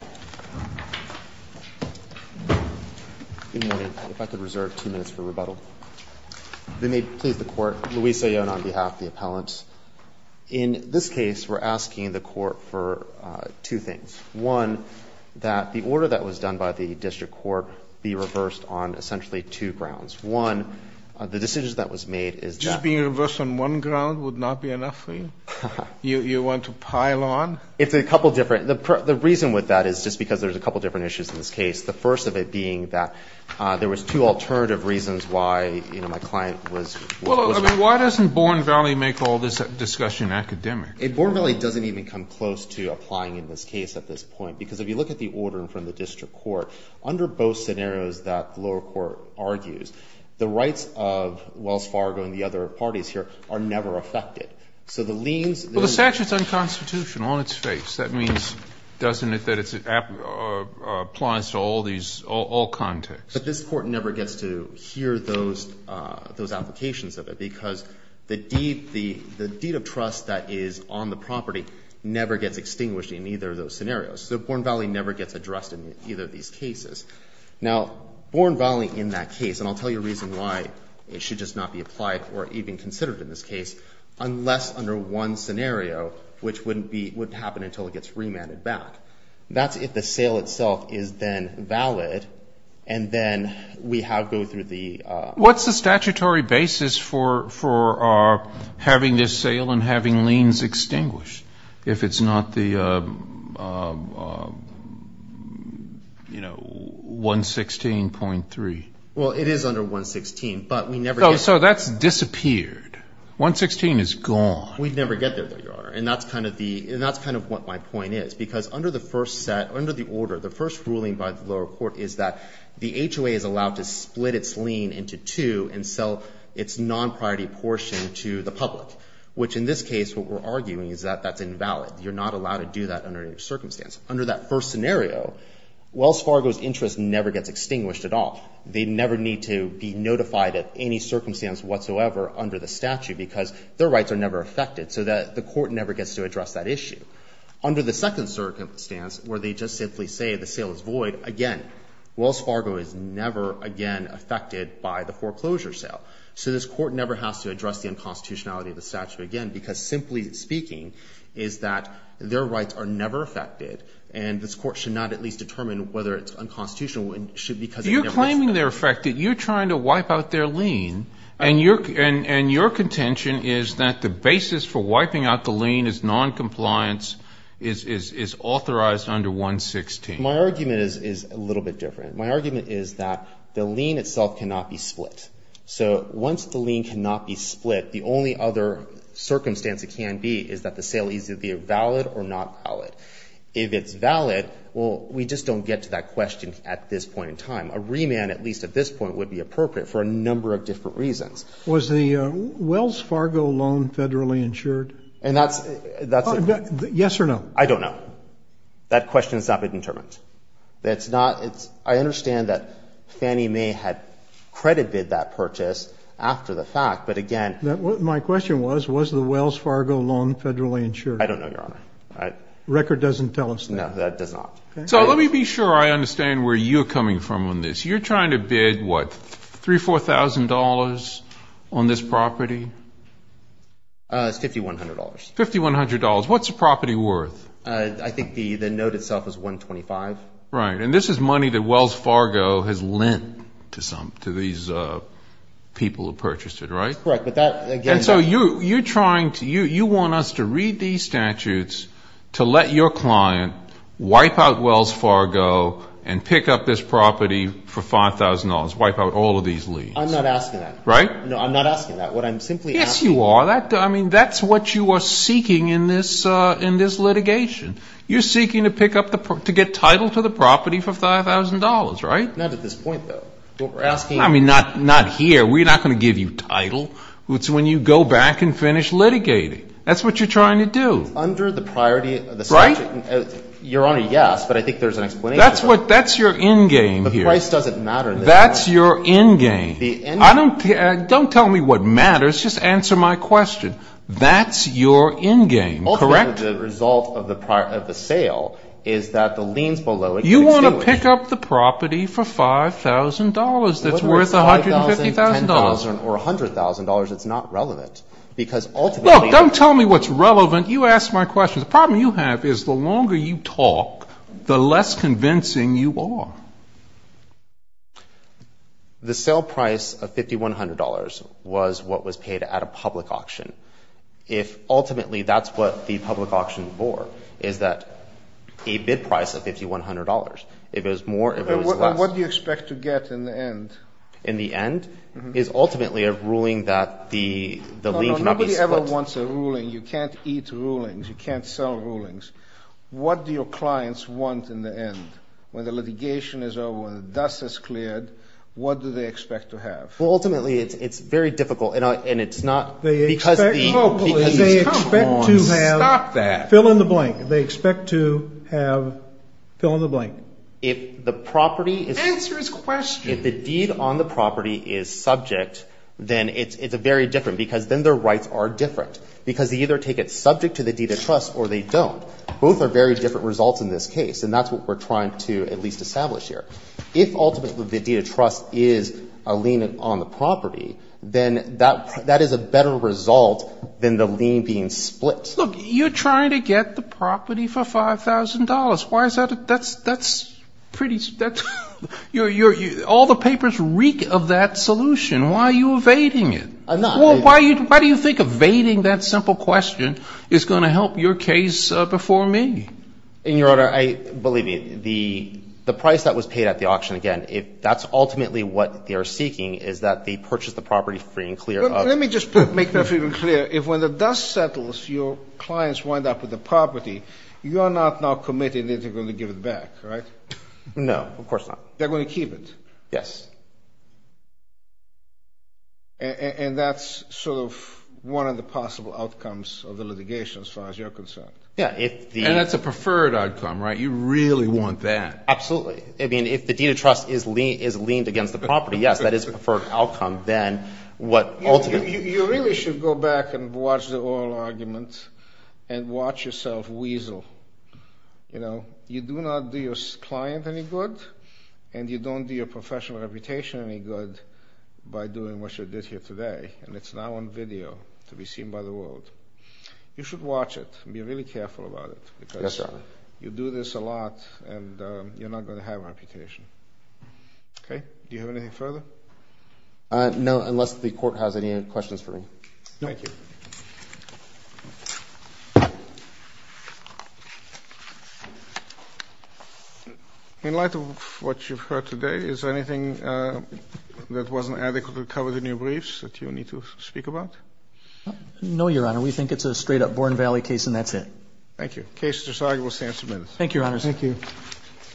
Good morning. If I could reserve two minutes for rebuttal. If it may please the Court, Luis Ayala on behalf of the appellants. In this case, we're asking the Court for two things. One, that the order that was done by the District Court be reversed on essentially two grounds. One, the decision that was made is that... Just being reversed on one ground would not be enough for you? You want to pile on? It's a couple different. The reason with that is just because there's a couple different issues in this case. The first of it being that there was two alternative reasons why, you know, my client was... Well, I mean, why doesn't Bourne Valley make all this discussion academic? Bourne Valley doesn't even come close to applying in this case at this point. Because if you look at the order from the District Court, under both scenarios that the lower court argues, the rights of Wells Fargo and the other parties here are never affected. So the liens... Well, the statute's unconstitutional on its face. That means, doesn't it, that it applies to all these, all contexts. But this Court never gets to hear those applications of it because the deed of trust that is on the property never gets extinguished in either of those scenarios. So Bourne Valley never gets addressed in either of these cases. Now, Bourne Valley in that case, and I'll tell you a reason why it should just not be applied or even considered in this case, unless under one scenario, which wouldn't happen until it gets remanded back. That's if the sale itself is then valid, and then we have to go through the... What's the statutory basis for having this sale and having liens extinguished, if it's not the, you know, 116.3? Well, it is under 116, but we never get... Well, so that's disappeared. 116 is gone. We never get there, Your Honor, and that's kind of what my point is. Because under the first set, under the order, the first ruling by the lower court is that the HOA is allowed to split its lien into two and sell its non-priority portion to the public, which in this case what we're arguing is that that's invalid. You're not allowed to do that under any circumstance. Under that first scenario, Wells Fargo's interest never gets extinguished at all. They never need to be notified of any circumstance whatsoever under the statute because their rights are never affected. So the court never gets to address that issue. Under the second circumstance where they just simply say the sale is void, again, Wells Fargo is never again affected by the foreclosure sale. So this court never has to address the unconstitutionality of the statute again because simply speaking is that their rights are never affected, and this court should not at least determine whether it's unconstitutional You're claiming they're affected. You're trying to wipe out their lien, and your contention is that the basis for wiping out the lien is noncompliance, is authorized under 116. My argument is a little bit different. My argument is that the lien itself cannot be split. So once the lien cannot be split, the only other circumstance it can be is that the sale needs to be valid or not valid. If it's valid, well, we just don't get to that question at this point in time. A remand, at least at this point, would be appropriate for a number of different reasons. Was the Wells Fargo loan federally insured? Yes or no? I don't know. That question has not been determined. I understand that Fannie Mae had credit bid that purchase after the fact, but again My question was, was the Wells Fargo loan federally insured? I don't know, Your Honor. The record doesn't tell us? No, it does not. So let me be sure I understand where you're coming from on this. You're trying to bid, what, $3,000, $4,000 on this property? It's $5,100. $5,100. What's the property worth? I think the note itself is $125. Right. And this is money that Wells Fargo has lent to these people who purchased it, right? Correct. And so you're trying to, you want us to read these statutes to let your client wipe out Wells Fargo and pick up this property for $5,000, wipe out all of these leads. I'm not asking that. Right? No, I'm not asking that. Yes, you are. I mean, that's what you are seeking in this litigation. You're seeking to pick up, to get title to the property for $5,000, right? Not at this point, though. I mean, not here. We're not going to give you title. It's when you go back and finish litigating. That's what you're trying to do. Under the priority of the statute. Right? Your Honor, yes, but I think there's an explanation for that. That's your end game here. The price doesn't matter. That's your end game. Don't tell me what matters. Just answer my question. That's your end game, correct? Ultimately, the result of the sale is that the liens below it can extinguish. You want to pick up the property for $5,000 that's worth $150,000. $5,000, $10,000, or $100,000, it's not relevant. Look, don't tell me what's relevant. You asked my question. The problem you have is the longer you talk, the less convincing you are. The sale price of $5,100 was what was paid at a public auction. Ultimately, that's what the public auction is for, is that a bid price of $5,100. If it was more, if it was less. What do you expect to get in the end? In the end is ultimately a ruling that the lien cannot be split. Nobody ever wants a ruling. You can't eat rulings. You can't sell rulings. What do your clients want in the end? When the litigation is over, when the dust is cleared, what do they expect to have? Ultimately, it's very difficult. They expect locally. They expect to have. Stop that. Fill in the blank. They expect to have. Fill in the blank. If the property is. Answer his question. If the deed on the property is subject, then it's very different because then their rights are different. Because they either take it subject to the deed of trust or they don't. Both are very different results in this case, and that's what we're trying to at least establish here. If ultimately the deed of trust is a lien on the property, then that is a better result than the lien being split. Look, you're trying to get the property for $5,000. Why is that? That's pretty. All the papers reek of that solution. Why are you evading it? I'm not. Why do you think evading that simple question is going to help your case before me? In your honor, believe me, the price that was paid at the auction, again, if that's ultimately what they are seeking is that they purchase the property free and clear of. Let me just make that even clearer. If when the dust settles, your clients wind up with the property, you are not now committing that they're going to give it back, right? No, of course not. They're going to keep it? Yes. And that's sort of one of the possible outcomes of the litigation as far as you're concerned? Yeah. And that's a preferred outcome, right? You really want that. Absolutely. I mean, if the deed of trust is liened against the property, yes, that is a preferred outcome than what ultimately. You really should go back and watch the oral argument and watch yourself weasel. You do not do your client any good, and you don't do your professional reputation any good by doing what you did here today, and it's now on video to be seen by the world. You should watch it and be really careful about it. Yes, Your Honor. You do this a lot, and you're not going to have a reputation. Okay? Do you have anything further? No, unless the Court has any questions for me. Thank you. In light of what you've heard today, is there anything that wasn't adequately covered in your briefs that you need to speak about? No, Your Honor. We think it's a straight-up Bourne Valley case, and that's it. Thank you. The case is resolvable, so answer the minutes. Thank you, Your Honor. Thank you.